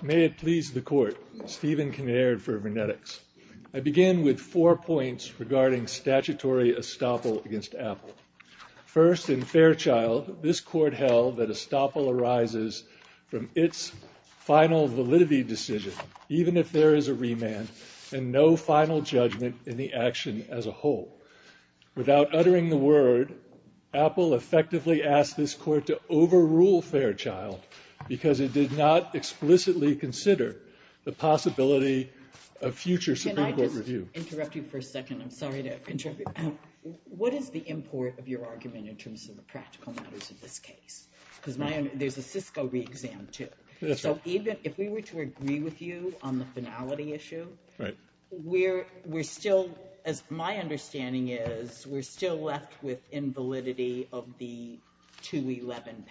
May it please the court, Stephen Kinnaird for v. VrnetX. I begin with four points regarding statutory estoppel against Apple. First, in Fairchild, this court held that estoppel arises from its final validity decision, even if there is a remand, and no final judgment in the action as a whole. Without uttering the word, Apple effectively asked this court to overrule Fairchild because it did not explicitly consider the possibility of future Supreme Court review. Can I just interrupt you for a second? I'm sorry to interrupt you. What is the import of your argument in terms of the practical matters of this case? Because there's a Cisco re-exam too. So even if we were to agree with you on the finality issue, my understanding is we're still left with invalidity of the 211 patent,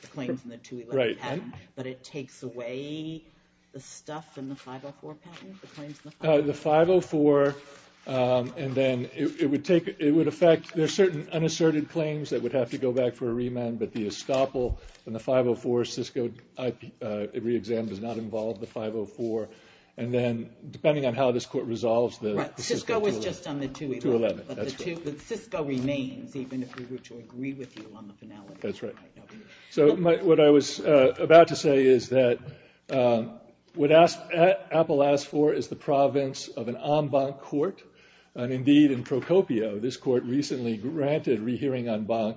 the claims in the 211 patent, but it takes away the stuff in the 504 patent, the claims in the 504? The 504, and then it would affect, there's certain unasserted claims that would have to go back for a remand, but the estoppel in the 504 Cisco re-exam does not involve the 504. And then, depending on how this court resolves, the Cisco 211. Right, Cisco was just on the 211. But the Cisco remains, even if we were to agree with you on the finality. That's right. So what I was about to say is that what Apple asked for is the province of an en banc court. And indeed, in Procopio, this court recently granted re-hearing en banc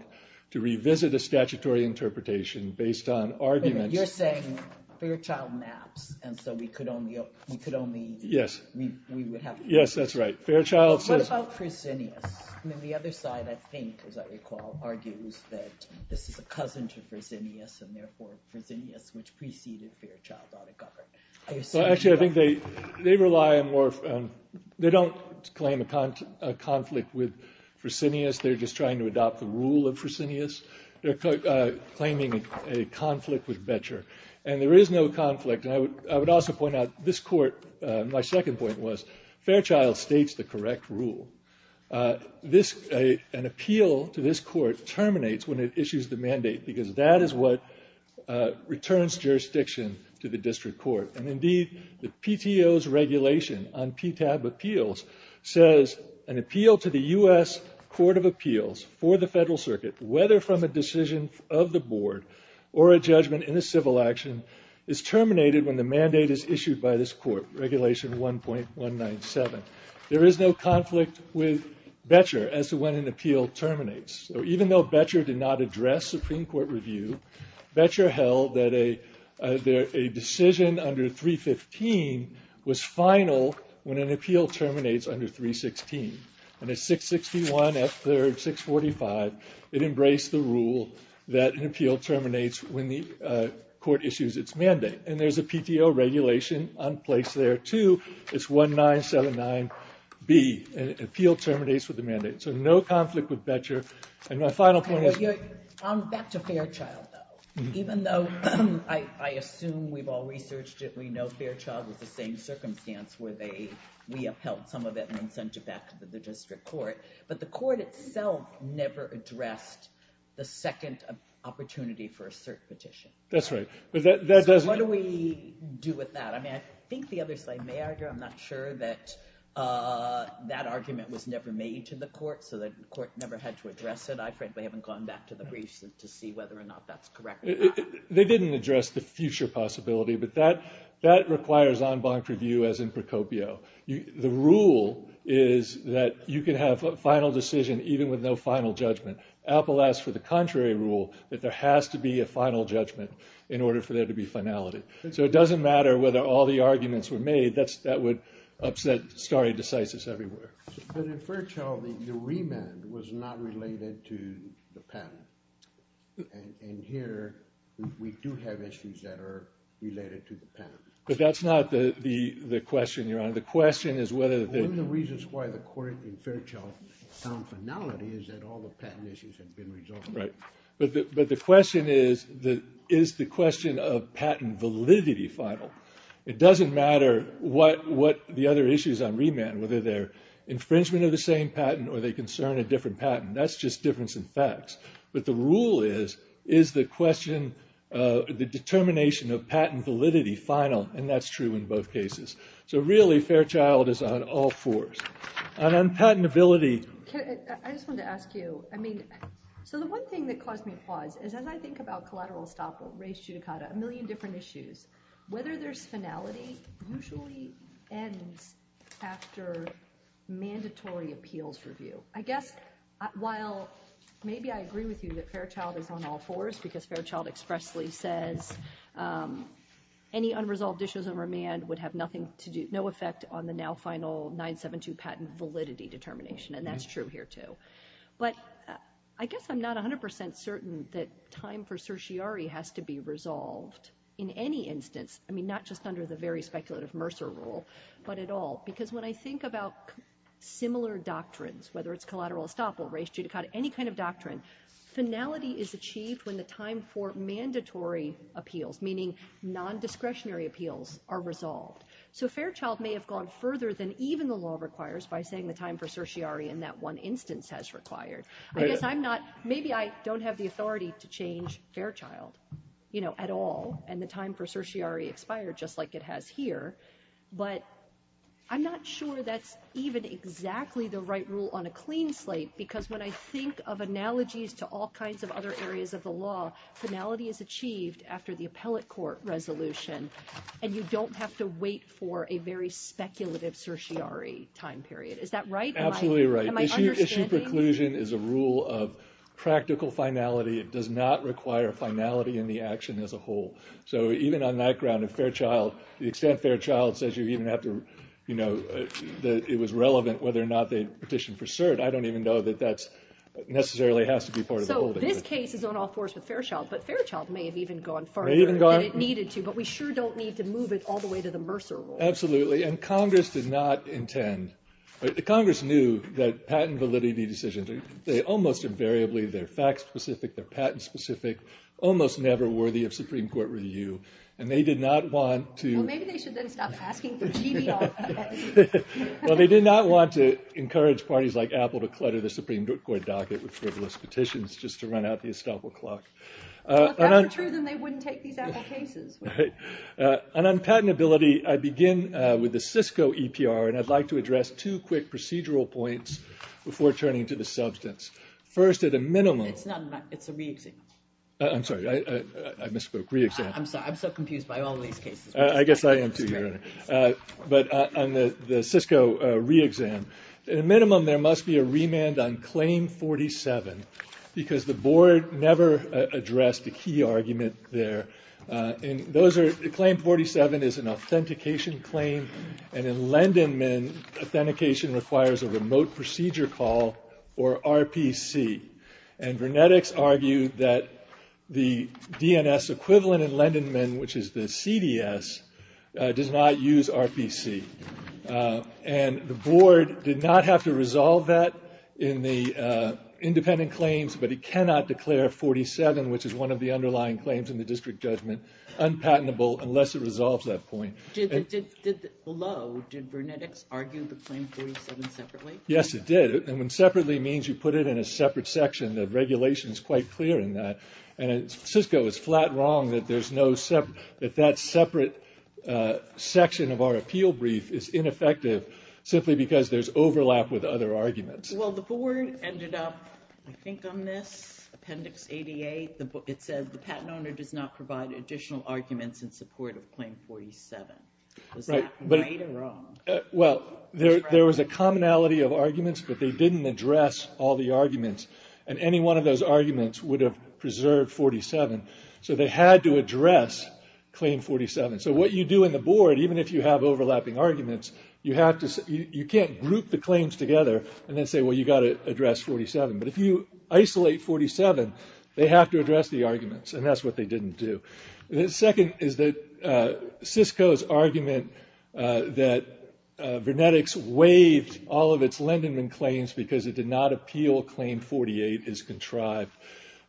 to revisit a statutory interpretation based on arguments. You're saying Fairchild maps, and so we could only, we would have. Yes, that's right. Fairchild says. What about Fresenius? I mean, the other side, I think, as I recall, argues that this is a cousin to Fresenius, and therefore Fresenius, which preceded Fairchild, ought to govern. Well, actually, I think they rely on more, they don't claim a conflict with Fresenius. They're just trying to adopt the rule of Fresenius. They're claiming a conflict with Boettcher. And there is no conflict. And I would also point out, this court, my second point was, Fairchild states the correct rule. An appeal to this court terminates when it issues the mandate, because that is what returns jurisdiction to the district court. And indeed, the PTO's regulation on PTAB appeals says an appeal to the U.S. Court of Appeals for the federal circuit, whether from a decision of the board or a judgment in a civil action, is terminated when the mandate is issued by this court, Regulation 1.197. There is no conflict with Boettcher as to when an appeal terminates. So even though Boettcher did not address Supreme Court review, Boettcher held that a decision under 315 was final when an appeal terminates under 316. And at 661, F3rd, 645, it embraced the rule that an appeal terminates when the court issues its mandate. And there's a PTO regulation on place there, too. It's 1.979B, an appeal terminates with the mandate. So no conflict with Boettcher. And my final point is... I'm back to Fairchild, though. Even though I assume we've all researched it, we know Fairchild was the same circumstance where we upheld some of it and then sent it back to the district court. But the court itself never addressed the second opportunity for a cert petition. That's right, but that doesn't... What do we do with that? I mean, I think the other side may argue, I'm not sure that that argument was never made to the court, so the court never had to address it. I frankly haven't gone back to the briefs to see whether or not that's correct. They didn't address the future possibility, but that requires en banc review, as in Procopio. The rule is that you can have a final decision even with no final judgment. Apple asks for the contrary rule, that there has to be a final judgment in order for there to be finality. So it doesn't matter whether all the arguments were made. That would upset stare decisis everywhere. But in Fairchild, the remand was not related to the patent. And here, we do have issues that are related to the patent. But that's not the question, Your Honor. The question is whether the... One of the reasons why the court in Fairchild found finality is that all the patent issues had been resolved. Right, but the question is, is the question of patent validity final? It doesn't matter what the other issues on remand, whether they're infringement of the same patent or they concern a different patent. That's just difference in facts. But the rule is, is the question, the determination of patent validity final? And that's true in both cases. So really, Fairchild is on all fours. And on patentability. I just wanted to ask you, I mean, so the one thing that caused me pause is as I think about collateral estoppel, race judicata, a million different issues, whether there's finality usually ends after mandatory appeals review. I guess, while maybe I agree with you that Fairchild is on all fours because Fairchild expressly says any unresolved issues on remand would have nothing to do, no effect on the now final 972 patent validity determination and that's true here too. But I guess I'm not 100% certain that time for certiorari has to be resolved in any instance, I mean, not just under the very speculative Mercer rule, but at all, because when I think about similar doctrines, whether it's collateral estoppel, race judicata, any kind of doctrine, finality is achieved when the time for mandatory appeals, meaning non-discretionary appeals, are resolved. So Fairchild may have gone further than even the law requires by saying the time for certiorari in that one instance has required. I guess I'm not, maybe I don't have the authority to change Fairchild at all and the time for certiorari expired just like it has here, but I'm not sure that's even exactly the right rule on a clean slate because when I think of analogies to all kinds of other areas of the law, finality is achieved after the appellate court resolution and you don't have to wait for a very speculative certiorari time period. Is that right? Absolutely right. Am I understanding? Issued preclusion is a rule of practical finality. It does not require finality in the action as a whole. So even on that ground, if Fairchild, the extent Fairchild says you even have to, you know, that it was relevant whether or not they petitioned for cert, I don't even know that that's necessarily has to be part of the whole thing. So this case is on all fours with Fairchild, but Fairchild may have even gone further than it needed to, but we sure don't need to move it all the way to the Mercer rule. Absolutely. And Congress did not intend, but the Congress knew that patent validity decisions, they almost invariably, they're fact specific, they're patent specific, almost never worthy of Supreme Court review. And they did not want to. Well, maybe they should then stop asking for GBR. Well, they did not want to encourage parties like Apple to clutter the Supreme Court docket with frivolous petitions just to run out the estoppel clock. Well, if that were true, then they wouldn't take these Apple cases. And on patentability, I begin with the Cisco EPR, and I'd like to address two quick procedural points before turning to the substance. First, at a minimum. It's not a, it's a re-exam. I'm sorry, I misspoke, re-exam. I'm sorry, I'm so confused by all these cases. I guess I am too, Your Honor. But on the Cisco re-exam, at a minimum, there must be a remand on claim 47 because the board never addressed a key argument there. And those are, claim 47 is an authentication claim. And in Lendenman, authentication requires a remote procedure call, or RPC. And Vernetics argued that the DNS equivalent in Lendenman, which is the CDS, does not use RPC. And the board did not have to resolve that in the independent claims, but it cannot declare 47, which is one of the underlying claims in the district judgment, unpatentable unless it resolves that point. Did, below, did Vernetics argue the claim 47 separately? Yes, it did. And when separately means you put it in a separate section, the regulation's quite clear in that. And Cisco is flat wrong that there's no separate, that that separate section of our appeal brief is ineffective simply because there's overlap with other arguments. Well, the board ended up, I think on this, appendix 88, it says the patent owner does not provide additional arguments in support of claim 47. Was that right or wrong? Well, there was a commonality of arguments, but they didn't address all the arguments. And any one of those arguments would have preserved 47. So they had to address claim 47. So what you do in the board, even if you have overlapping arguments, you have to, you can't group the claims together and then say, well, you gotta address 47. But if you isolate 47, they have to address the arguments, and that's what they didn't do. The second is that Cisco's argument that Vernetics waived all of its Lindenman claims because it did not appeal claim 48 is contrived.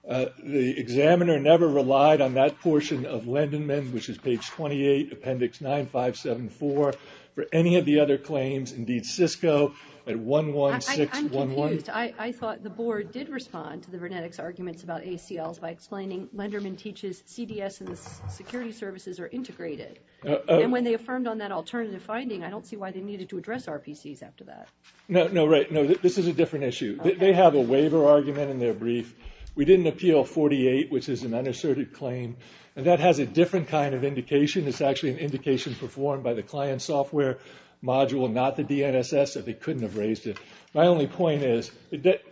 The examiner never relied on that portion of Lindenman, which is page 28, appendix 9574, for any of the other claims. Indeed, Cisco at 11611. I'm confused. I thought the board did respond to the Vernetics arguments about ACLs by explaining Lindenman teaches CDS and the security services are integrated. And when they affirmed on that alternative finding, I don't see why they needed to address RPCs after that. No, no, right. No, this is a different issue. They have a waiver argument in their brief. We didn't appeal 48, which is an unasserted claim. And that has a different kind of indication. It's actually an indication performed by the client software module, not the DNSS, so they couldn't have raised it. My only point is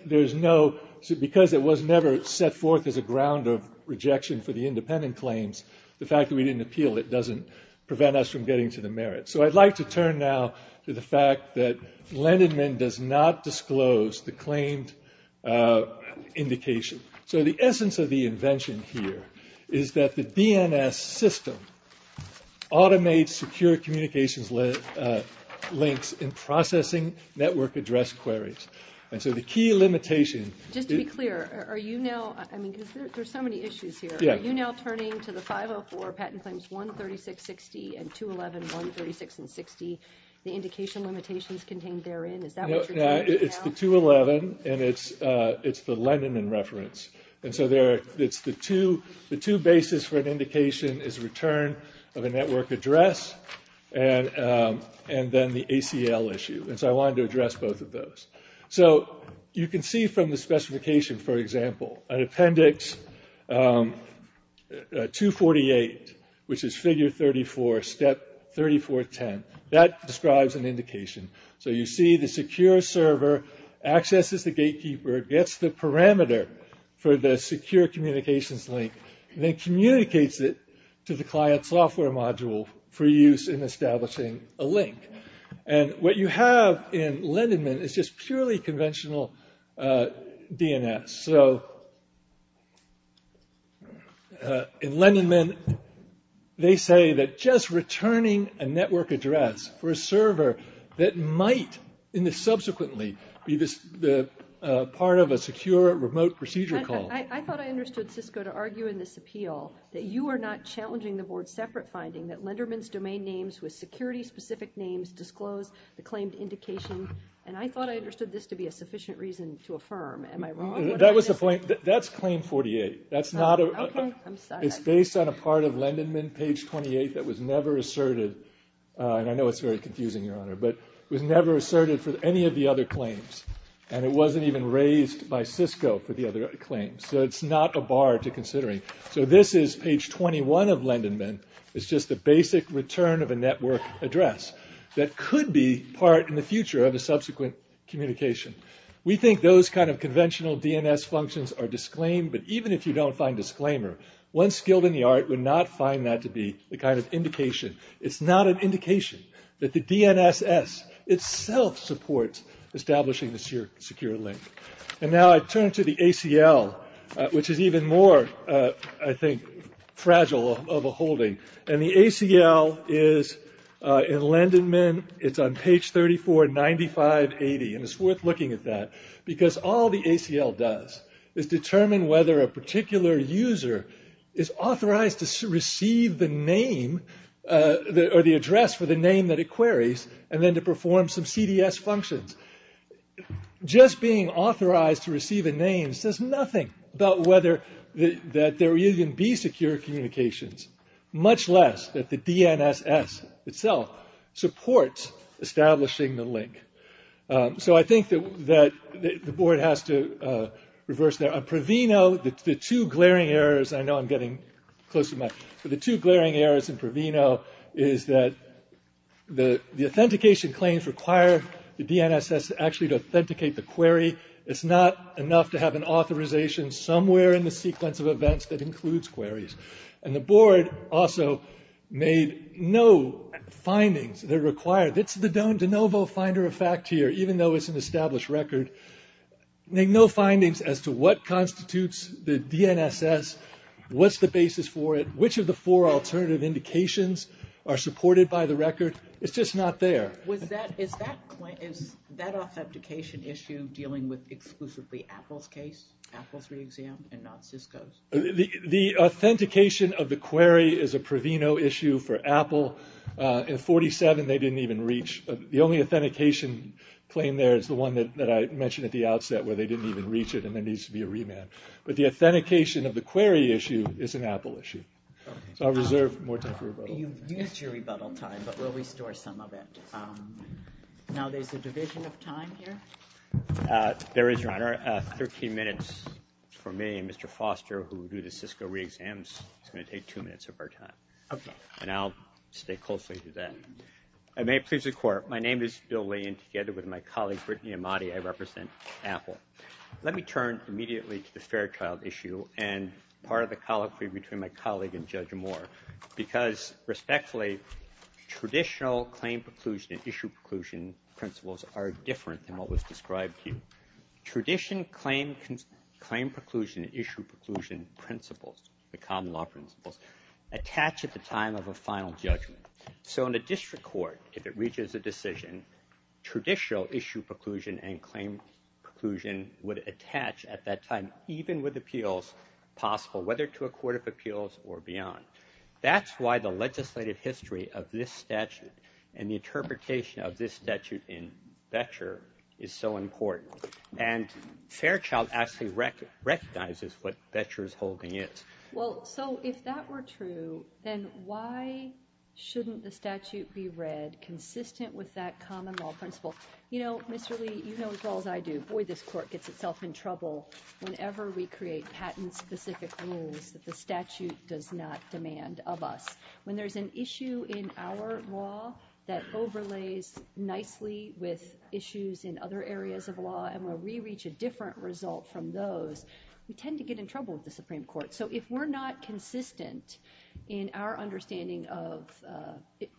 there's no, because it was never set forth as a ground of rejection for the independent claims, the fact that we didn't appeal it doesn't prevent us from getting to the merit. So I'd like to turn now to the fact that Lindenman does not disclose the claimed indication. So the essence of the invention here is that the DNS system automates secure communications links in processing network address queries. And so the key limitation. Just to be clear, are you now, I mean, there's so many issues here. Are you now turning to the 504 patent claims, 13660 and 211, 136 and 60, the indication limitations contained therein? Is that what you're doing now? No, it's the 211 and it's the Lindenman reference. And so it's the two basis for an indication is return of a network address and then the ACL issue. And so I wanted to address both of those. So you can see from the specification, for example, an appendix 248, which is figure 34, step 3410. That describes an indication. So you see the secure server accesses the gatekeeper, gets the parameter for the secure communications link, then communicates it to the client software module for use in establishing a link. And what you have in Lindenman is just purely conventional DNS. So in Lindenman, they say that just returning a network address for a server that might, subsequently, be part of a secure remote procedure call. I thought I understood, Cisco, to argue in this appeal that you are not challenging the board's separate finding that Lindenman's domain names with security-specific names disclose the claimed indication. And I thought I understood this to be a sufficient reason to affirm. Am I wrong? That was the point. That's claim 48. That's not a... Okay, I'm sorry. It's based on a part of Lindenman, page 28, that was never asserted. And I know it's very confusing, Your Honor, but it was never asserted for any of the other claims. And it wasn't even raised by Cisco for the other claims. So it's not a bar to considering. So this is page 21 of Lindenman. It's just a basic return of a network address that could be part, in the future, of a subsequent communication. We think those kind of conventional DNS functions are disclaimed, but even if you don't find disclaimer, one skilled in the art would not find that to be the kind of indication. It's not an indication that the DNSS itself supports establishing the secure link. And now I turn to the ACL, which is even more, I think, fragile of a holding. And the ACL is in Lindenman. It's on page 34, 9580, and it's worth looking at that because all the ACL does is determine whether a particular user is authorized to receive the name or the address for the name that it queries, and then to perform some CDS functions. Just being authorized to receive a name says nothing about whether that there even be secure communications, much less that the DNSS itself supports establishing the link. So I think that the board has to reverse their, Pravino, the two glaring errors, and I know I'm getting close to my, but the two glaring errors in Pravino is that the authentication claims require the DNSS actually to authenticate the query. It's not enough to have an authorization somewhere in the sequence of events that includes queries. And the board also made no findings that required, it's the de novo finder of fact here, even though it's an established record, made no findings as to what constitutes the DNSS, what's the basis for it, which of the four alternative indications are supported by the record. It's just not there. Was that, is that authentication issue dealing with exclusively Apple's case, Apple's re-exam, and not Cisco's? The authentication of the query is a Pravino issue for Apple. In 47, they didn't even reach, the only authentication claim there is the one that I mentioned at the outset where they didn't even reach it, and there needs to be a remand. But the authentication of the query issue is an Apple issue. So I'll reserve more time for rebuttal. You've used your rebuttal time, but we'll restore some of it. Now there's a division of time here. There is, Your Honor. 13 minutes for me and Mr. Foster, who do the Cisco re-exams. It's gonna take two minutes of our time. Okay. And I'll stay closely to that. And may it please the court, my name is Bill Lee, and together with my colleague, Brittany Amati, I represent Apple. Let me turn immediately to the Fairchild issue and part of the colloquy between my colleague and Judge Moore, because respectfully, traditional claim preclusion and issue preclusion principles are different than what was described to you. Tradition, claim preclusion, issue preclusion principles, the common law principles, attach at the time of a final judgment. So in a district court, if it reaches a decision, traditional issue preclusion and claim preclusion would attach at that time, even with appeals possible, whether to a court of appeals or beyond. That's why the legislative history of this statute and the interpretation of this statute in Vecher is so important. And Fairchild actually recognizes what Vecher's holding is. Well, so if that were true, then why shouldn't the statute be read consistent with that common law principle? You know, Mr. Lee, you know as well as I do, boy, this court gets itself in trouble whenever we create patent-specific rules that the statute does not demand of us. When there's an issue in our law that overlays nicely with issues in other areas of law and we'll re-reach a different result from those, we tend to get in trouble with the Supreme Court. So if we're not consistent in our understanding of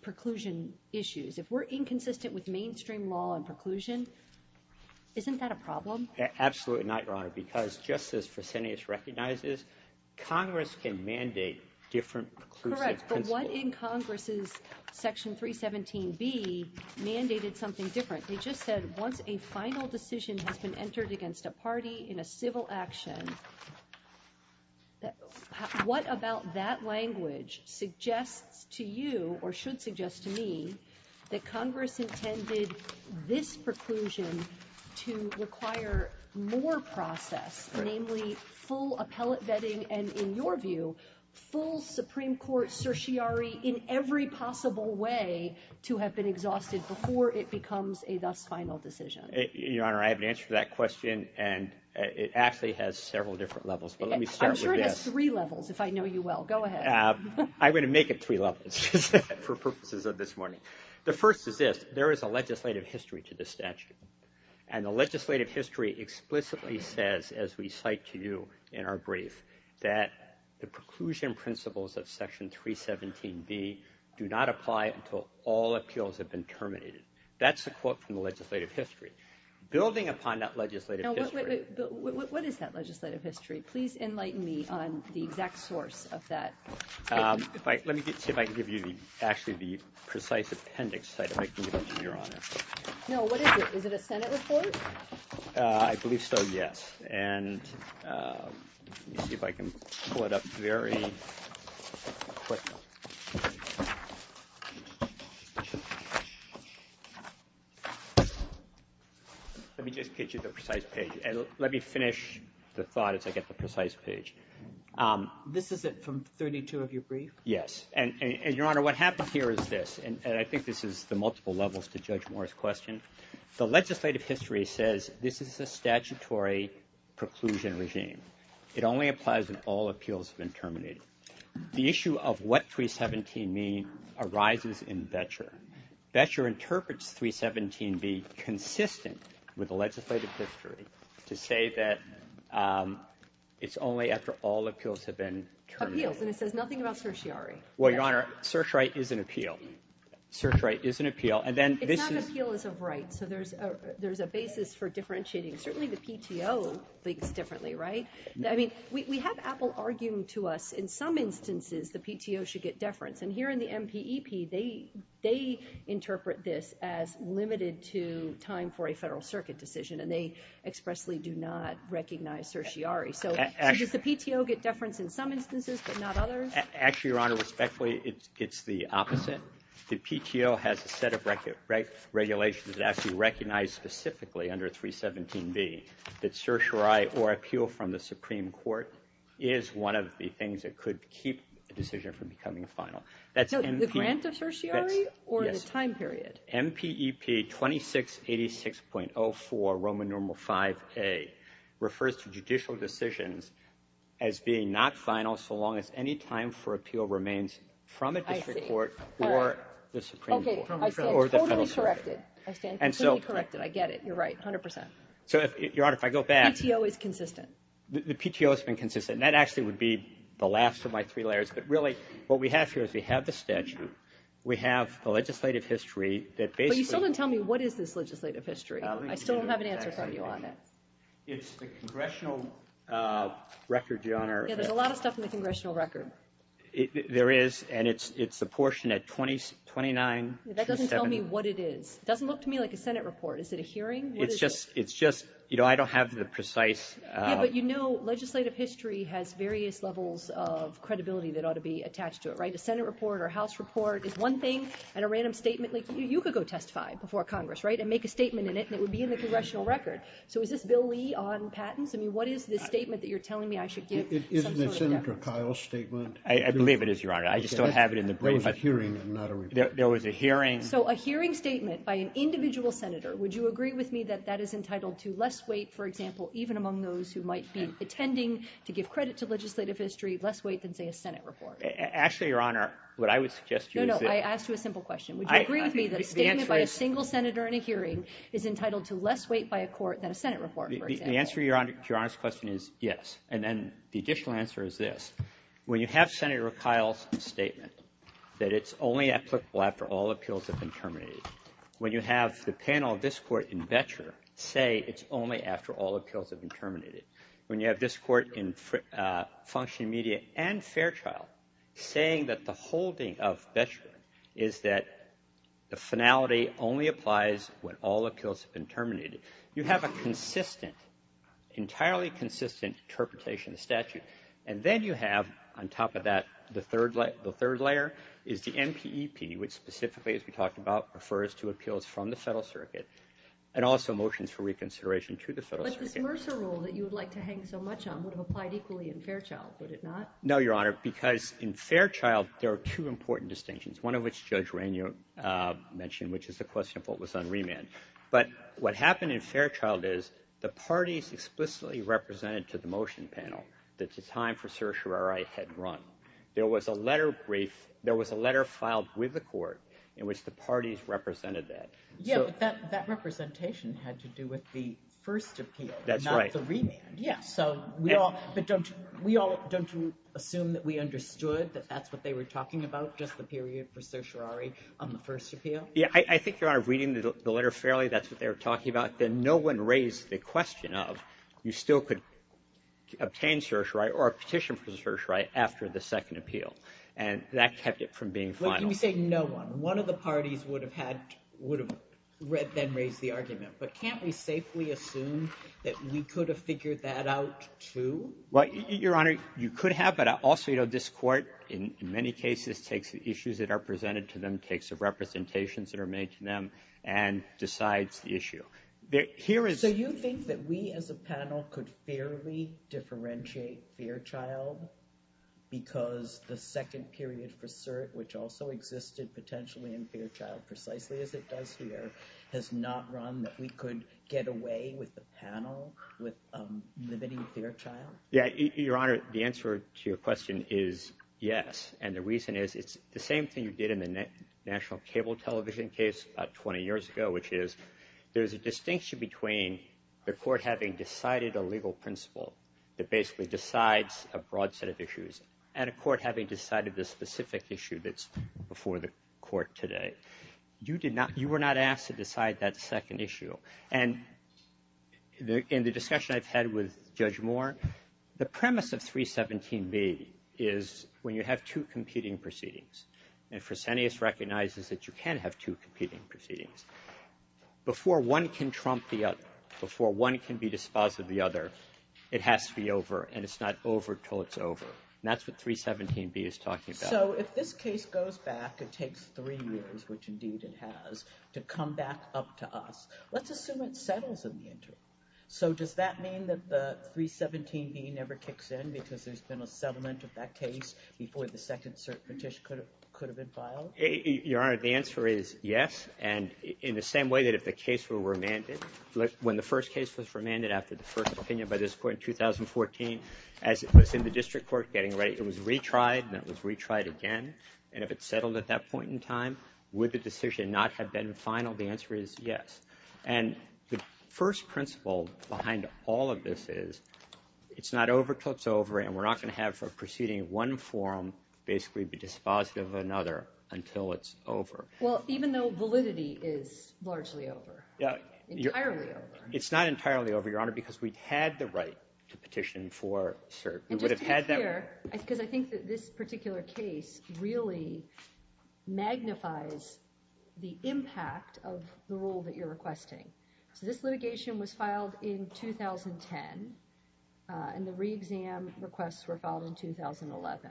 preclusion issues, if we're inconsistent with mainstream law and preclusion, isn't that a problem? Absolutely not, Your Honor, because just as Fresenius recognizes, Congress can mandate different preclusive principles. Correct, but what in Congress's Section 317B mandated something different? They just said once a final decision has been entered against a party in a civil action, what about that language suggests to you or should suggest to me that Congress intended this preclusion to require more process, namely full appellate vetting and in your view, full Supreme Court certiorari in every possible way to have been exhausted before it becomes a thus final decision? Your Honor, I have an answer to that question and it actually has several different levels, but let me start with this. I'm sure it has three levels if I know you well, go ahead. I'm gonna make it three levels for purposes of this morning. The first is this, there is a legislative history to this statute and the legislative history explicitly says as we cite to you in our brief that the preclusion principles of Section 317B do not apply until all appeals have been terminated. That's the quote from the legislative history. Building upon that legislative history. What is that legislative history? Please enlighten me on the exact source of that. Let me see if I can give you actually the precise appendix so I can give it to you, Your Honor. No, what is it? Is it a Senate report? I believe so, yes. And let me see if I can pull it up very quickly. Let me just get you the precise page and let me finish the thought as I get the precise page. This is it from 32 of your brief? Yes, and Your Honor, what happened here is this, and I think this is the multiple levels to Judge Moore's question. The legislative history says this is a statutory preclusion regime. It only applies when all appeals have been terminated. The issue of what 317B arises in Boettcher. Boettcher interprets 317B consistent with the legislative history to say that it's only after all appeals have been terminated. Appeals, and it says nothing about certiorari. Well, Your Honor, search right is an appeal. Search right is an appeal. And then this is. It's not appeal as of right. So there's a basis for differentiating. Certainly the PTO thinks differently, right? I mean, we have Apple arguing to us in some instances the PTO should get deference. And here in the MPEP, they interpret this as limited to time for a federal circuit decision, and they expressly do not recognize certiorari. So does the PTO get deference in some instances, but not others? Actually, Your Honor, respectfully, it's the opposite. The PTO has a set of regulations that actually recognize specifically under 317B that certiorari or appeal from the Supreme Court is one of the things that could keep a decision from becoming a final. That's MPEP. No, the grant of certiorari or the time period? MPEP 2686.04 Roman Normal 5A refers to judicial decisions as being not final so long as any time for appeal remains from a district court or the Supreme Court. Okay, I stand totally corrected. I stand totally corrected. I get it, you're right, 100%. So, Your Honor, if I go back. PTO is consistent. The PTO has been consistent. And that actually would be the last of my three layers. But really, what we have here is we have the statute, we have the legislative history that basically- But you still didn't tell me what is this legislative history? I still don't have an answer from you on it. It's the congressional record, Your Honor. Yeah, there's a lot of stuff in the congressional record. There is, and it's a portion at 2927- That doesn't tell me what it is. It doesn't look to me like a Senate report. Is it a hearing? It's just, you know, I don't have the precise- Yeah, but you know, legislative history has various levels of credibility that ought to be attached to it, right? A Senate report or House report is one thing, and a random statement, like you could go testify before Congress, right, and make a statement in it, and it would be in the congressional record. So, is this Bill Lee on patents? I mean, what is this statement that you're telling me I should give? Isn't it Senator Kyle's statement? I believe it is, Your Honor. I just don't have it in the- There was a hearing and not a report. There was a hearing- So, a hearing statement by an individual senator, would you agree with me that that is entitled to less weight, for example, even among those who might be attending, to give credit to legislative history, less weight than, say, a Senate report? Actually, Your Honor, what I would suggest to you is- No, no, I asked you a simple question. Would you agree with me that a statement by a single senator in a hearing is entitled to less weight by a court than a Senate report, for example? The answer to Your Honor's question is yes, and then the additional answer is this. When you have Senator Kyle's statement that it's only applicable after all appeals have been terminated, when you have the panel of this court in Betcher say it's only after all appeals have been terminated, when you have this court in Function Media and Fairchild saying that the holding of Betcher is that the finality only applies when all appeals have been terminated, you have a consistent, entirely consistent interpretation of the statute, and then you have, on top of that, the third layer is the NPEP, which specifically, as we talked about, refers to appeals from the federal circuit, and also motions for reconsideration to the federal circuit. But this Mercer rule that you would like to hang so much on would have applied equally in Fairchild, would it not? No, Your Honor, because in Fairchild, there are two important distinctions, one of which Judge Rainier mentioned, which is the question of what was on remand. But what happened in Fairchild is the parties explicitly represented to the motion panel that the time for certiorari had run. There was a letter filed with the court in which the parties represented that. Yeah, but that representation had to do with the first appeal, not the remand. Yeah, so we all, but don't you assume that we understood that that's what they were talking about, just the period for certiorari on the first appeal? Yeah, I think, Your Honor, reading the letter fairly, that's what they were talking about. Then no one raised the question of you still could obtain certiorari or a petition for certiorari after the second appeal. And that kept it from being final. When we say no one, one of the parties would have then raised the argument. But can't we safely assume that we could have figured that out too? Well, Your Honor, you could have, but also this court, in many cases, takes the issues that are presented to them, takes the representations that are made to them, and decides the issue. So you think that we as a panel could fairly differentiate Fairchild because the second period for cert, which also existed potentially in Fairchild, precisely as it does here, has not run that we could get away with the panel with limiting Fairchild? Yeah, Your Honor, the answer to your question is yes. And the reason is it's the same thing you did in the national cable television case about 20 years ago, which is there's a distinction between the court having decided a legal principle that basically decides a broad set of issues and a court having decided the specific issue that's before the court today. You were not asked to decide that second issue. And in the discussion I've had with Judge Moore, the premise of 317B is when you have two competing proceedings, and Fresenius recognizes that you can have two competing proceedings, before one can trump the other, before one can be dispositive of the other, it has to be over, and it's not over till it's over. And that's what 317B is talking about. So if this case goes back, it takes three years, which indeed it has, to come back up to us, let's assume it settles in the interim. So does that mean that the 317B never kicks in because there's been a settlement of that case before the second petition could have been filed? Your Honor, the answer is yes, and in the same way that if the case were remanded, when the first case was remanded after the first opinion by this court in 2014, as it was in the district court getting ready, it was retried, and it was retried again, and if it settled at that point in time, would the decision not have been final? The answer is yes. And the first principle behind all of this is it's not over till it's over, and we're not gonna have a proceeding of one form basically be dispositive of another until it's over. Well, even though validity is largely over, entirely over. It's not entirely over, Your Honor, because we had the right to petition for cert. We would have had that right. And just to be clear, because I think that this particular case really magnifies the impact of the rule that you're requesting. So this litigation was filed in 2010, and the re-exam requests were filed in 2011.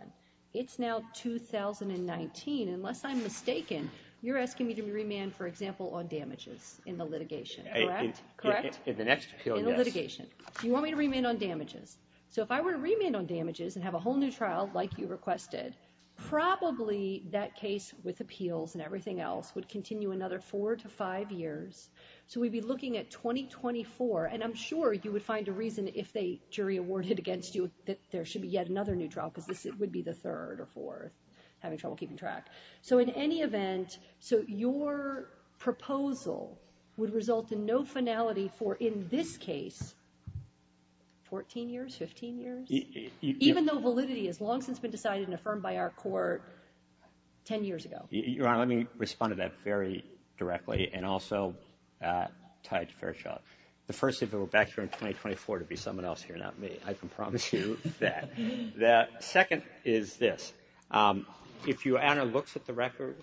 It's now 2019. Unless I'm mistaken, you're asking me to remand, for example, on damages in the litigation, correct? Correct? In the next appeal, yes. In the litigation. You want me to remand on damages. So if I were to remand on damages and have a whole new trial like you requested, probably that case with appeals and everything else would continue another four to five years. So we'd be looking at 2024, and I'm sure you would find a reason if they jury awarded against you that there should be yet another new trial, because this would be the third or fourth, having trouble keeping track. So in any event, so your proposal would result in no finality for, in this case, 14 years, 15 years? Even though validity has long since been decided and affirmed by our court 10 years ago. Your Honor, let me respond to that very directly, and also tied to Fairchild. The first, if it were back here in 2024, it would be someone else here, not me. I can promise you that. The second is this. If your honor looks at the record,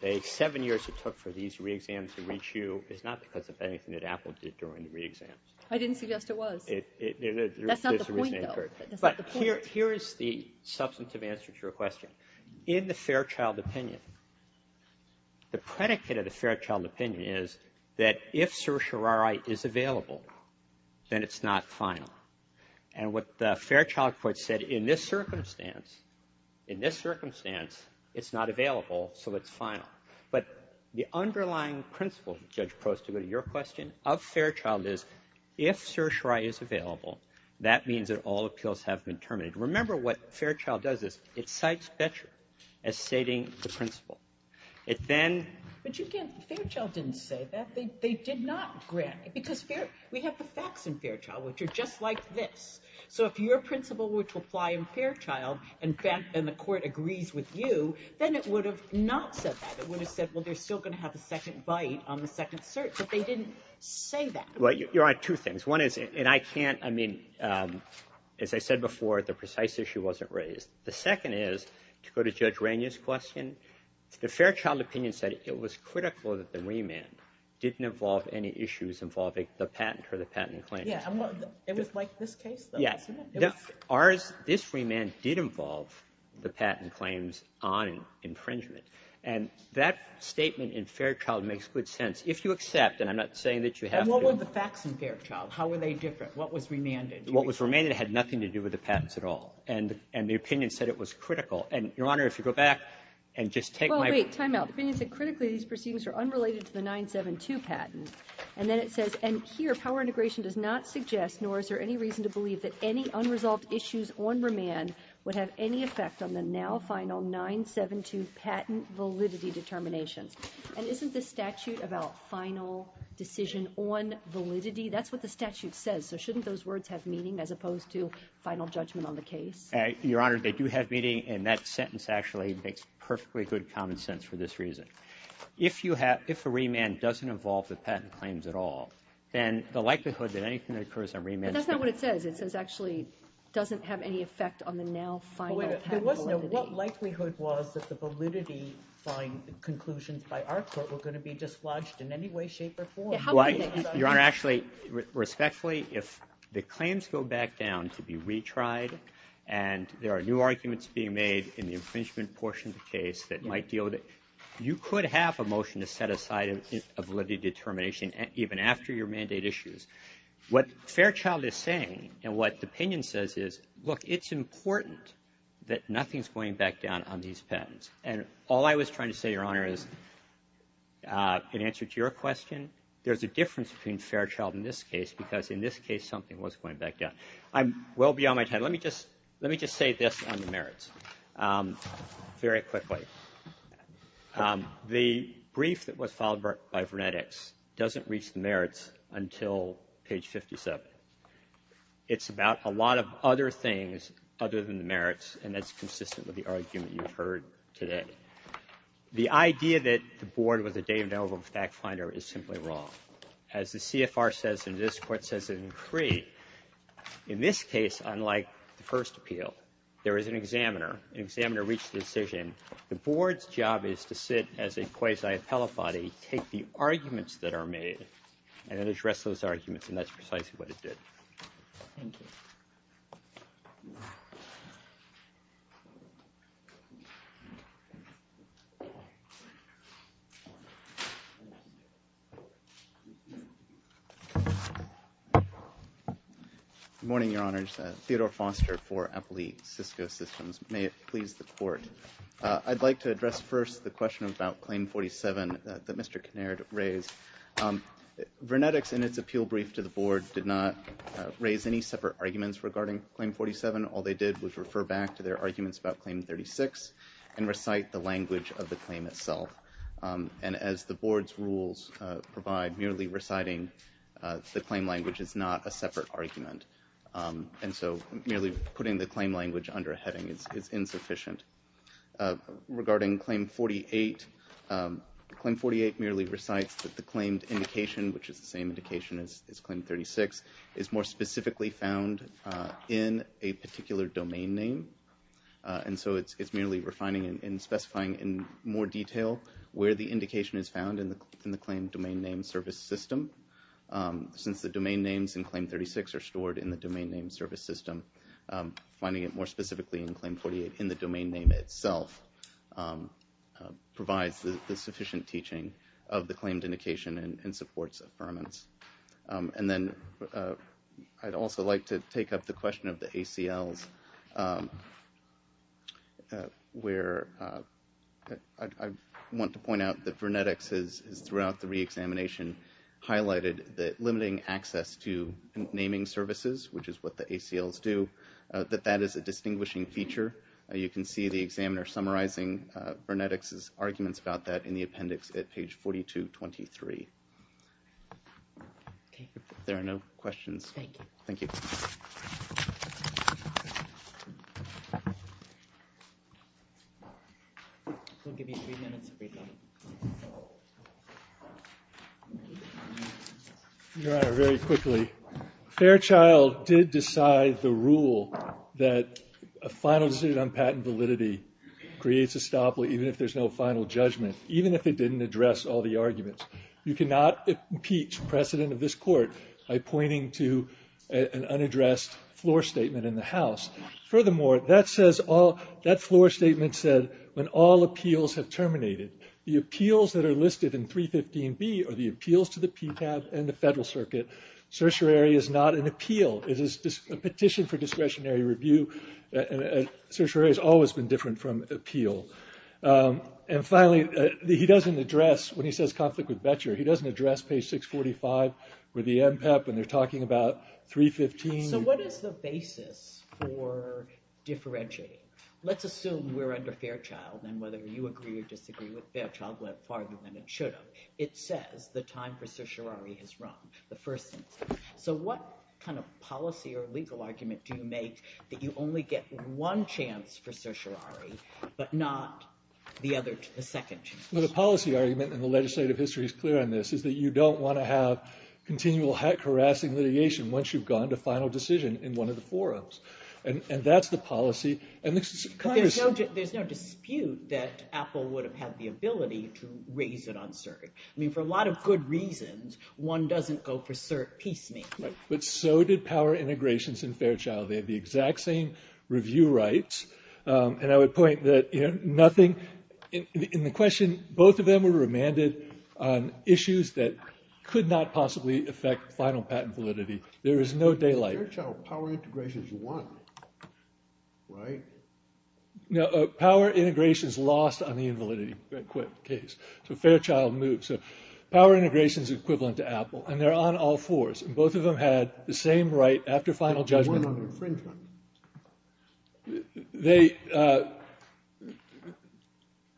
the seven years it took for these re-exams to reach you is not because of anything that Apple did during the re-exams. I didn't suggest it was. That's not the point, though. But here is the substantive answer to your question. In the Fairchild opinion, the predicate of the Fairchild opinion is that if certiorari is available, then it's not final. And what the Fairchild court said in this circumstance, in this circumstance, it's not available, so it's final. But the underlying principle, Judge Prost, to go to your question, of Fairchild is if certiorari is available, that means that all appeals have been terminated. Remember what Fairchild does is it cites Betcher as stating the principle. It then, but you can't, Fairchild didn't say that. They did not grant it, because we have the facts in Fairchild which are just like this. So if your principle were to apply in Fairchild and the court agrees with you, then it would have not said that. It would have said, well, they're still gonna have a second bite on the second cert, but they didn't say that. Well, you're on two things. One is, and I can't, I mean, as I said before, the precise issue wasn't raised. The second is, to go to Judge Rainier's question, the Fairchild opinion said it was critical that the remand didn't involve any issues involving the patent or the patent claims. Yeah, it was like this case, though, wasn't it? Ours, this remand did involve the patent claims on impringement. And that statement in Fairchild makes good sense. If you accept, and I'm not saying that you have to. And what were the facts in Fairchild? How were they different? What was remanded? What was remanded had nothing to do with the patents at all. And the opinion said it was critical. And, Your Honor, if you go back and just take my. Well, wait, time out. The opinion said, critically, these proceedings are unrelated to the 972 patent. And then it says, and here, power integration does not suggest, nor is there any reason to believe that any unresolved issues on remand would have any effect on the now final 972 patent validity determinations. And isn't this statute about final decision on validity? That's what the statute says. So shouldn't those words have meaning as opposed to final judgment on the case? Your Honor, they do have meaning. And that sentence actually makes perfectly good common sense for this reason. If a remand doesn't involve the patent claims at all, then the likelihood that anything occurs on remand. But that's not what it says. It actually doesn't have any effect on the now final patent validity. There was no what likelihood was that the validity conclusions by our court were going to be dislodged in any way, shape, or form. Your Honor, actually, respectfully, if the claims go back down to be retried and there are new arguments being made in the infringement portion of the case that might deal with it, you could have a motion to set aside a validity determination even after your mandate issues. What Fairchild is saying and what the opinion says is, look, it's important that nothing's going back down on these patents. And all I was trying to say, Your Honor, is in answer to your question, there's a difference between Fairchild in this case because in this case, something was going back down. I'm well beyond my time. Let me just say this on the merits very quickly. The brief that was filed by Vernetics doesn't reach the merits until page 57. It's about a lot of other things other than the merits. And that's consistent with the argument you've heard today. The idea that the board was a Dave Novo fact finder is simply wrong. As the CFR says in this court, says it in Cree, in this case, unlike the first appeal, there is an examiner. An examiner reached the decision. The board's job is to sit as a quasi-appellate body, take the arguments that are made, and address those arguments. And that's precisely what it did. Thank you. Good morning, Your Honors. Theodore Foster for Appley Cisco Systems. May it please the court. I'd like to address first the question about claim 47 that Mr. Kinnaird raised. Vernetics, in its appeal brief to the board, did not raise any separate arguments regarding claim 47. All they did was refer back to their arguments about claim 36 and recite the language of the claim itself. And as the board's rules provide, merely reciting the claim language is not a separate argument. And so merely putting the claim language under a heading is insufficient. Regarding claim 48, claim 48 merely recites that the claimed indication, which is the same indication as claim 36, is more specifically found in a particular domain name. And so it's merely refining and specifying in more detail where the indication is found in the claim domain name service system. Since the domain names in claim 36 are stored in the domain name service system, finding it more specifically in claim 48 in the domain name itself provides the sufficient teaching of the claimed indication and supports affirmance. And then I'd also like to take up the question of the ACLs, where I want to point out that Vernetics, throughout the re-examination, highlighted that limiting access to naming services, which is what the ACLs do, that that is a distinguishing feature. You can see the examiner summarizing Vernetics' arguments about that in the appendix at page 4223. If there are no questions. Thank you. Thank you. We'll give you three minutes to read that. Your Honor, very quickly, Fairchild did decide the rule that a final decision on patent validity creates a stop, even if there's no final judgment, even if it didn't address all the arguments. You cannot impeach precedent of this court by pointing to an unaddressed floor statement in the House. Furthermore, that floor statement said, when all appeals have terminated, the appeals that are listed in 315B are the appeals to the PCAB and the Federal Circuit. Certiorari is not an appeal. It is a petition for discretionary review. Certiorari has always been different from appeal. And finally, he doesn't address, when he says conflict with Betcher, he doesn't address page 645 with the MPEP, when they're talking about 315. So what is the basis for differentiating? Let's assume we're under Fairchild, and whether you agree or disagree with Fairchild, what argument it should have. It says the time for certiorari has run. The first instance. So what kind of policy or legal argument do you make that you only get one chance for certiorari, but not the other, the second chance? Well, the policy argument, and the legislative history is clear on this, is that you don't want to have continual hack harassing litigation once you've gone to final decision in one of the forums. And that's the policy. And this is kind of- There's no dispute that Apple would have had the ability to raise it on cert. I mean, for a lot of good reasons, one doesn't go for cert. Peace me. But so did power integrations in Fairchild. They have the exact same review rights. And I would point that nothing in the question, both of them were remanded on issues that could not possibly affect final patent validity. There is no daylight. Fairchild, power integrations won, right? No, power integrations lost on the invalidity case. So Fairchild moved. So power integrations is equivalent to Apple, and they're on all fours. And both of them had the same right after final judgment. They won on infringement.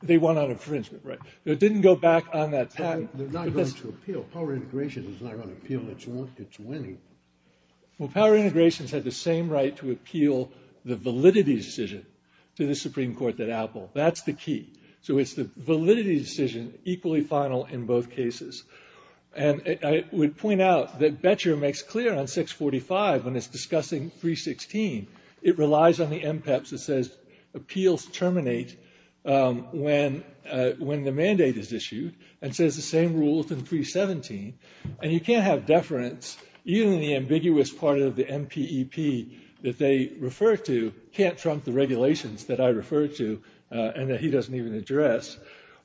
They won on infringement, right? It didn't go back on that patent. They're not going to appeal. Power integration is not going to appeal. It's winning. Well, power integrations had the same right to appeal the validity decision to the Supreme Court that Apple. That's the key. So it's the validity decision, equally final in both cases. And I would point out that Boettcher makes clear on 645 when it's discussing 316. It relies on the MPEPS. It says, appeals terminate when the mandate is issued. And it says the same rules in 317. And you can't have deference. Even the ambiguous part of the MPEP that they refer to can't trump the regulations that I referred to, and that he doesn't even address.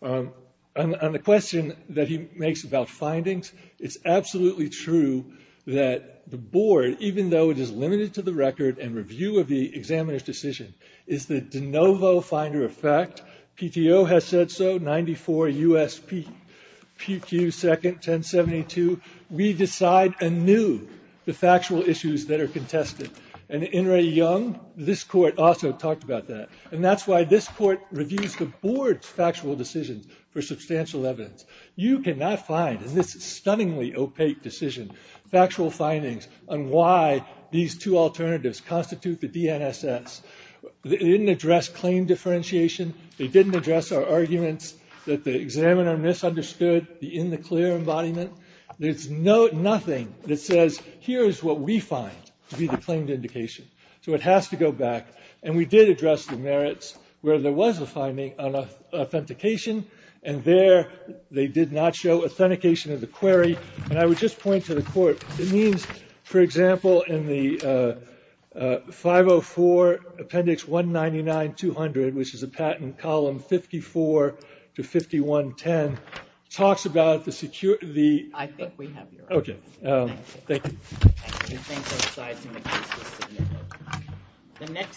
And the question that he makes about findings, it's absolutely true that the board, even though it is limited to the record and review of the examiner's decision, is the de novo finder of fact. PTO has said so. 94 USPQ second 1072. We decide anew the factual issues that are contested. And In re Young, this court also talked about that. And that's why this court reviews the board's factual decisions for substantial evidence. You cannot find in this stunningly opaque decision factual findings on why these two alternatives constitute the DNSS. They didn't address claim differentiation. They didn't address our arguments that the examiner misunderstood the in the clear embodiment. There's nothing that says, here's what we find to be the claimed indication. So it has to go back. And we did address the merits where there was a finding on authentication. And there, they did not show authentication of the query. And I would just point to the court. It means, for example, in the 504 Appendix 199-200, which is a patent column 54 to 51-10, talks about the secure, the. I think we have your. Okay. Thank you. Thank you. Thanks, I'm sorry to make this significant. The next.